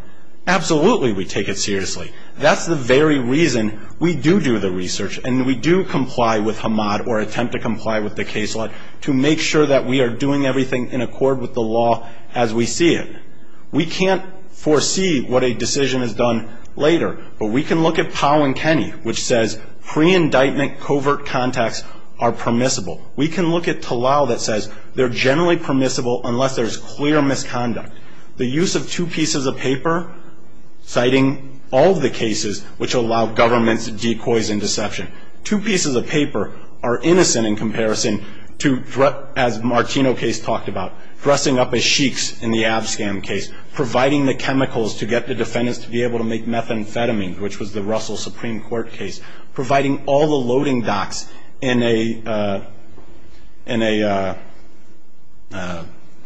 absolutely we take it seriously. That's the very reason we do do the research and we do comply with HMAD or attempt to comply with the case law to make sure that we are doing everything in accord with the law as we see it. We can't foresee what a decision is done later, but we can look at Powell and Kenney, which says pre-indictment covert contacts are permissible. We can look at Talal that says they're generally permissible unless there's clear misconduct. The use of two pieces of paper citing all of the cases which allow governments to decoy and deception. Two pieces of paper are innocent in comparison to as Martino case talked about, dressing up as sheiks in the Abscam case, providing the chemicals to get the defendants to be able to make methamphetamine, which was the Russell Supreme Court case, providing all the loading docks in a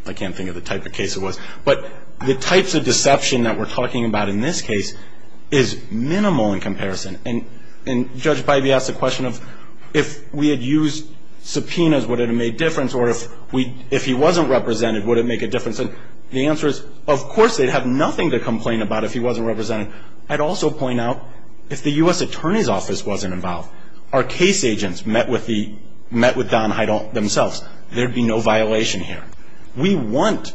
I can't think of the type of case it was, but the types of deception that we're talking about in this case is minimal in comparison. And Judge Pipey asked the question of if we had used subpoenas would it have made difference or if he wasn't represented would it make a difference? The answer is of course they'd have nothing to complain about if he wasn't represented. I'd also point out if the U.S. Attorney's Office wasn't involved, our case agents met with themselves. There'd be no violation here. We want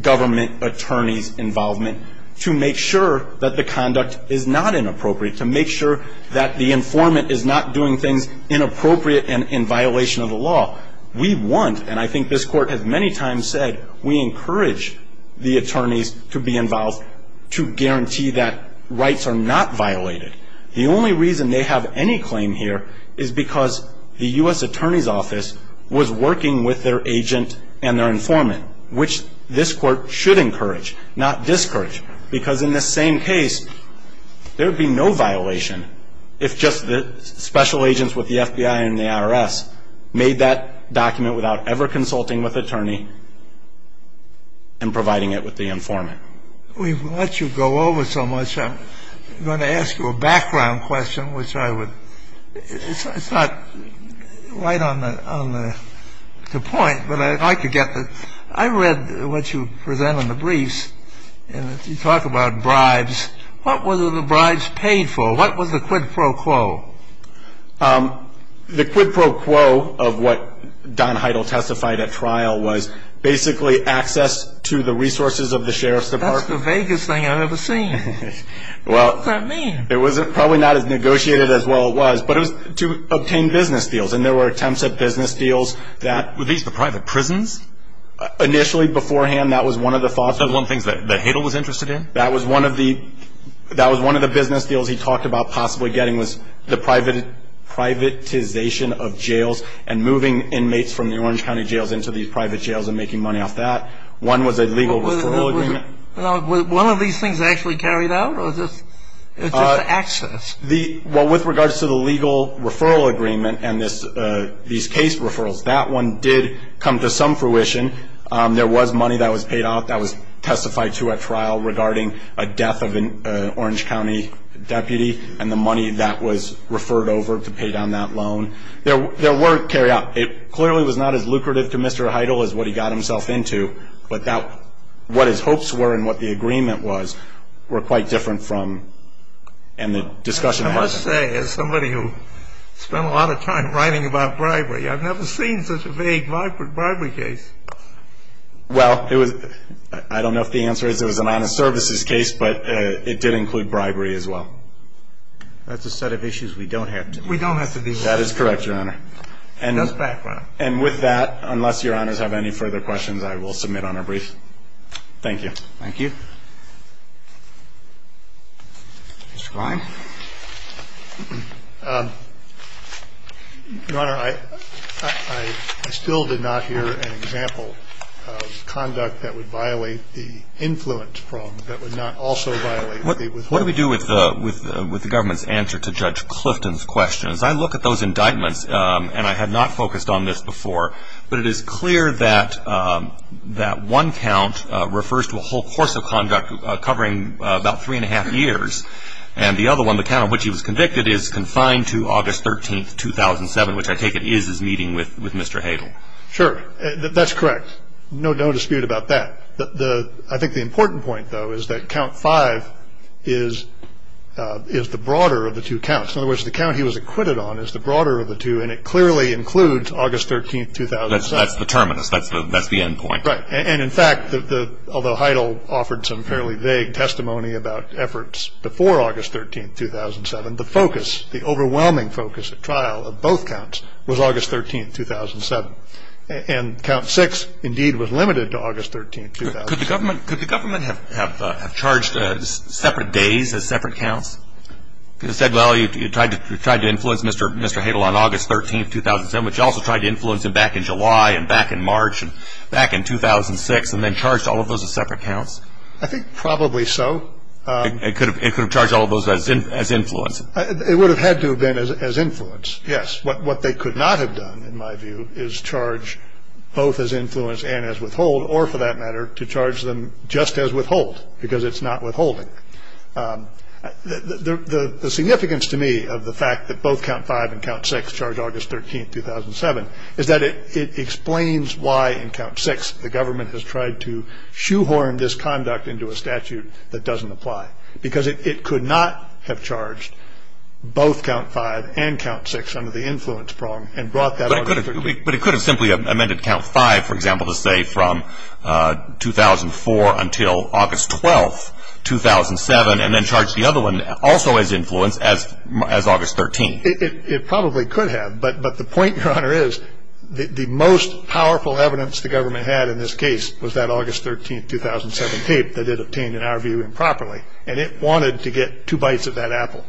government attorneys' involvement to make sure that the conduct is not inappropriate, to make sure that the informant is not doing things inappropriate and in violation of the law. We want and I think this court has many times said we encourage the attorneys to be involved to guarantee that rights are not violated. The only reason they have any claim here is because the U.S. Attorney's Office was working with their agent and their informant which this court should encourage, not discourage because in this same case there'd be no violation if just the special agents with the FBI and the IRS made that document without ever consulting with attorney and providing it with the informant. We've let you go over so much I'm going to ask you a background question which I would it's not right on the point but I could get the I read what you present in the briefs and you talk about bribes. What were the bribes paid for? What was the quid pro quo? The quid pro quo of what Don Heidel testified at trial was basically access to the resources of the Sheriff's Department That's the vaguest thing I've ever seen. What does that mean? It was probably not as negotiated as well it was but it was to obtain business deals and there were attempts at business deals that. Were these the private prisons? Initially before hand that was one of the thoughts. Those were the things that Heidel was interested in? That was one of the business deals he talked about possibly getting was the privatization of jails and moving inmates from the Orange County Jails into these private jails and making money off that One was a legal withdrawal agreement Was one of these things actually carried out or was it just access? With regards to the legal referral agreement and these case referrals, that one did come to some fruition There was money that was paid out that was testified to at trial regarding a death of an Orange County deputy and the money that was referred over to pay down that loan. There were carried out It clearly was not as lucrative to Mr. Heidel as what he got himself into but what his hopes were and what the agreement was were quite different I must say as somebody who spent a lot of time writing about bribery, I've never seen such a vague bribery case Well, it was I don't know if the answer is it was an honest services case but it did include bribery as well That's a set of issues we don't have to deal with That is correct, Your Honor And with that, unless Your Honors have any further questions, I will submit on a brief Thank you Your Honor, I still did not hear an example of conduct that would violate the influence problem What do we do with the government's answer to Judge Clifton's question? As I look at those indictments and I had not focused on this before, but it is clear that that one count refers to a whole course of conduct covering about three and a half years and the other one, the count on which he was convicted, is confined to August 13, 2007, which I take it is his meeting with Mr. Heidel Sure, that's correct No dispute about that I think the important point, though, is that count 5 is the broader of the two counts In other words, the count he was acquitted on is the broader of the two and it clearly includes August 13, 2007 Although Heidel offered some fairly vague testimony about efforts before August 13, 2007, the overwhelming focus at trial of both counts was August 13, 2007 Count 6, indeed, was limited to August 13, 2007 Could the government have charged separate days as separate counts? You said you tried to influence Mr. Heidel on August 13, 2007, but you also tried to influence him back in July and back in March and back in 2006 and then charged all of those as separate counts? I think probably so It could have charged all of those as influence It would have had to have been as influence Yes, what they could not have done, in my view, is charge both as influence and as withhold or, for that matter, to charge them just as withhold because it's not withholding The significance to me of the fact that both Count 5 and Count 6 charged August 13, 2007 is that it explains why in Count 6 the government has tried to shoehorn this conduct into a statute that doesn't apply because it could not have charged both Count 5 and Count 6 under the influence prong But it could have simply amended Count 5, for example, to say from 2004 until August 12, 2007 and then charge the other one also as influence as August 13 It probably could have but the point, Your Honor, is the most powerful evidence the government had in this case was that August 13, 2007 tape that it obtained, in our view, improperly, and it wanted to get two bites of that apple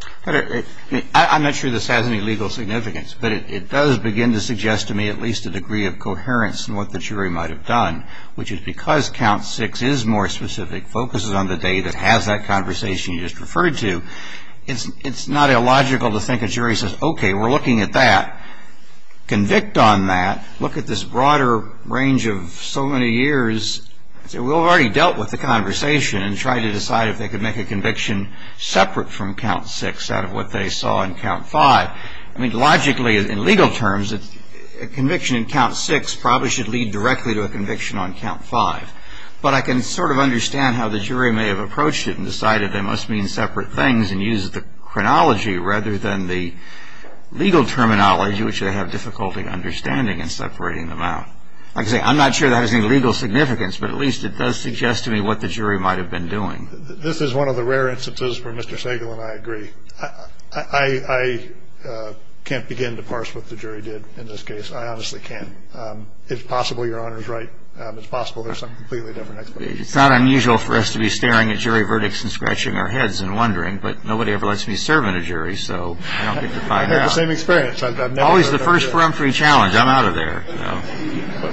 I'm not sure this has any legal significance but it does begin to suggest to me at least a degree of coherence in what the jury might have done which is because Count 6 is more specific focuses on the day that has that conversation you just referred to it's not illogical to think a jury says okay, we're looking at that convict on that look at this broader range of so many years we've already dealt with the conversation and tried to decide if they could make a conviction separate from Count 6 out of what they saw in Count 5 I mean, logically, in legal terms a conviction in Count 6 probably should lead directly to a conviction on Count 5 but I can sort of understand how the jury may have approached it and decided they must mean separate things and use the chronology rather than the legal terminology which they have difficulty understanding and separating them out I'm not sure that has any legal significance but at least it does suggest to me what the jury might have been doing this is one of the rare instances where Mr. Sagal and I agree I can't begin to parse what the jury did in this case, I honestly can't it's possible Your Honor is right it's possible there's some completely different explanation it's not unusual for us to be staring at jury verdicts and scratching our heads and wondering but nobody ever lets me serve in a jury so I don't get to find out I've never heard of it I'm always the first for every challenge, I'm out of there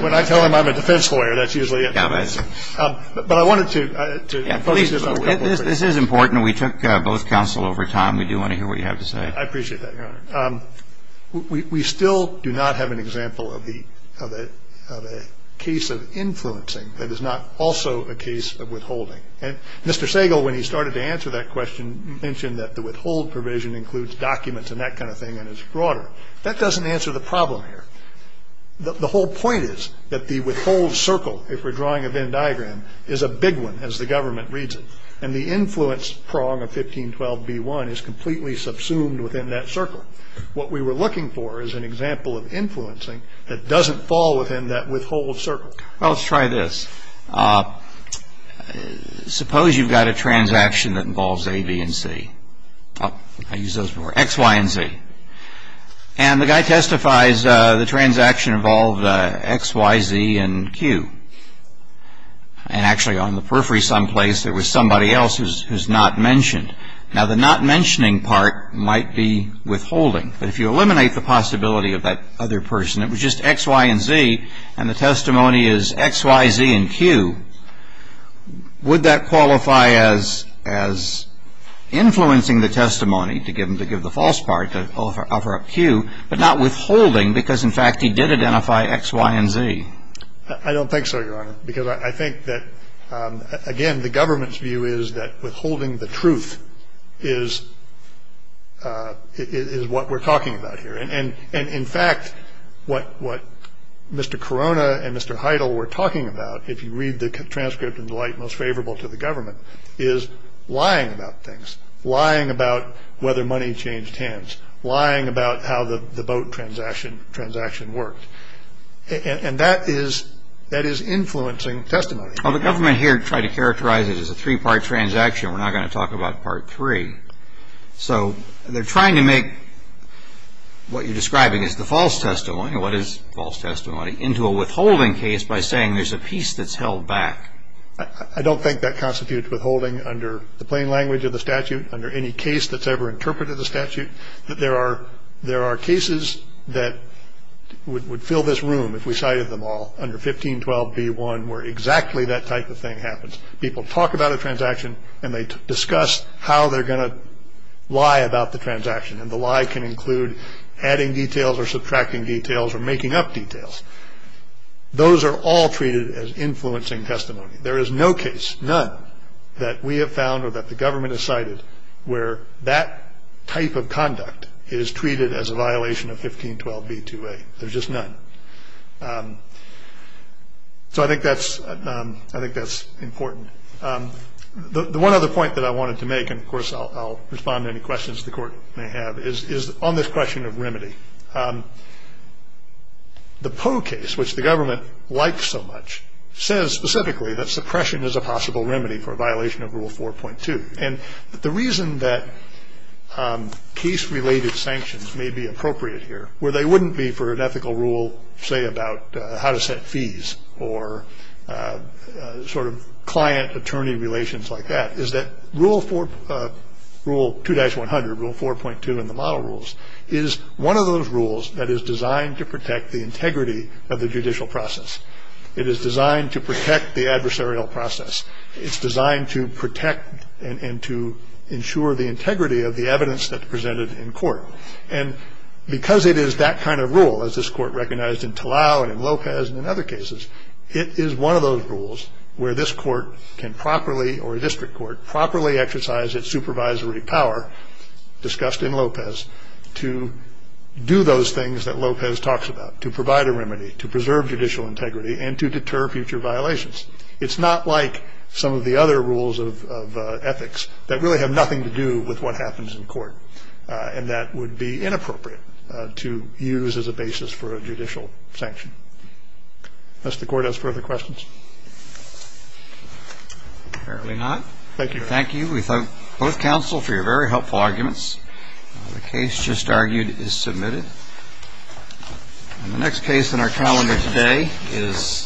when I tell them I'm a defense lawyer that's usually it this is important we took both counsel over time we do want to hear what you have to say I appreciate that Your Honor we still do not have an example of a case of influencing that is not also a case of withholding Mr. Sagal when he started to answer that question mentioned that the withhold provision includes documents and that kind of thing and is broader that doesn't answer the problem here the whole point is that the withhold circle if we're drawing a Venn diagram is a big one as the government reads it and the influence prong of 1512b1 is completely subsumed within that circle what we were looking for is an example of influencing that doesn't fall within that withhold circle well let's try this suppose you've got a transaction that involves A, B, and C X, Y, and Z and the guy testifies the transaction involved X, Y, Z, and Q and actually on the periphery some place there was somebody else who's not mentioned now the not mentioning part might be withholding but if you eliminate the possibility of that other person it was just X, Y, and Z and the testimony is X, Y, Z, and Q would that qualify as influencing the testimony to give the false part to offer up Q but not withholding because in fact he did identify X, Y, and Z I don't think so your honor because I think that again the government's view is that withholding the truth is what we're talking about here and in fact what Mr. Corona and Mr. Heidel were talking about if you read the transcript in the light most favorable to the government is lying about things lying about whether money changed hands lying about how the boat transaction worked and that is influencing testimony the government here tried to characterize it as a 3 part transaction we're not going to talk about part 3 so they're trying to make what you're describing as the false testimony what is false testimony into a withholding case by saying there's a piece that's held back I don't think that constitutes withholding under the plain language of the statute under any case that's ever interpreted the statute there are cases that would fill this room under 1512b1 where exactly that type of thing happens people talk about a transaction and they discuss how they're going to lie about the transaction and the lie can include adding details or subtracting details or making up details those are all treated as influencing testimony there is no case none that we have found or that the government has cited where that type of conduct is treated as a violation of 1512b2a there's just none so I think that's important the one other point that I wanted to make and of course I'll respond to any questions the court may have is on this question of remedy the Poe case which the government likes so much says specifically that suppression is a possible remedy for a violation of rule 4.2 and the reason that case related sanctions may be appropriate here where they wouldn't be for an ethical rule say about how to set fees or sort of client attorney relations like that is that rule 2-100 rule 4.2 and the model rules is one of those rules that is designed to protect the integrity of the judicial process it is designed to protect the adversarial process it's designed to protect and to ensure the integrity of the evidence that's presented in court and because it is that kind of rule as this court recognized in Talau and in Lopez and in other cases it is one of those rules where this court can properly or a district court can properly exercise its supervisory power discussed in Lopez to do those things that Lopez talks about to provide a remedy to preserve judicial integrity and to deter future violations it's not like some of the other rules of ethics that really have nothing to do with what happens in court and that would be inappropriate to use as a basis for a judicial sanction unless the court has further questions Apparently not. Thank you. We thank both counsel for your very helpful arguments. The case just argued is submitted and the next case in our calendar today is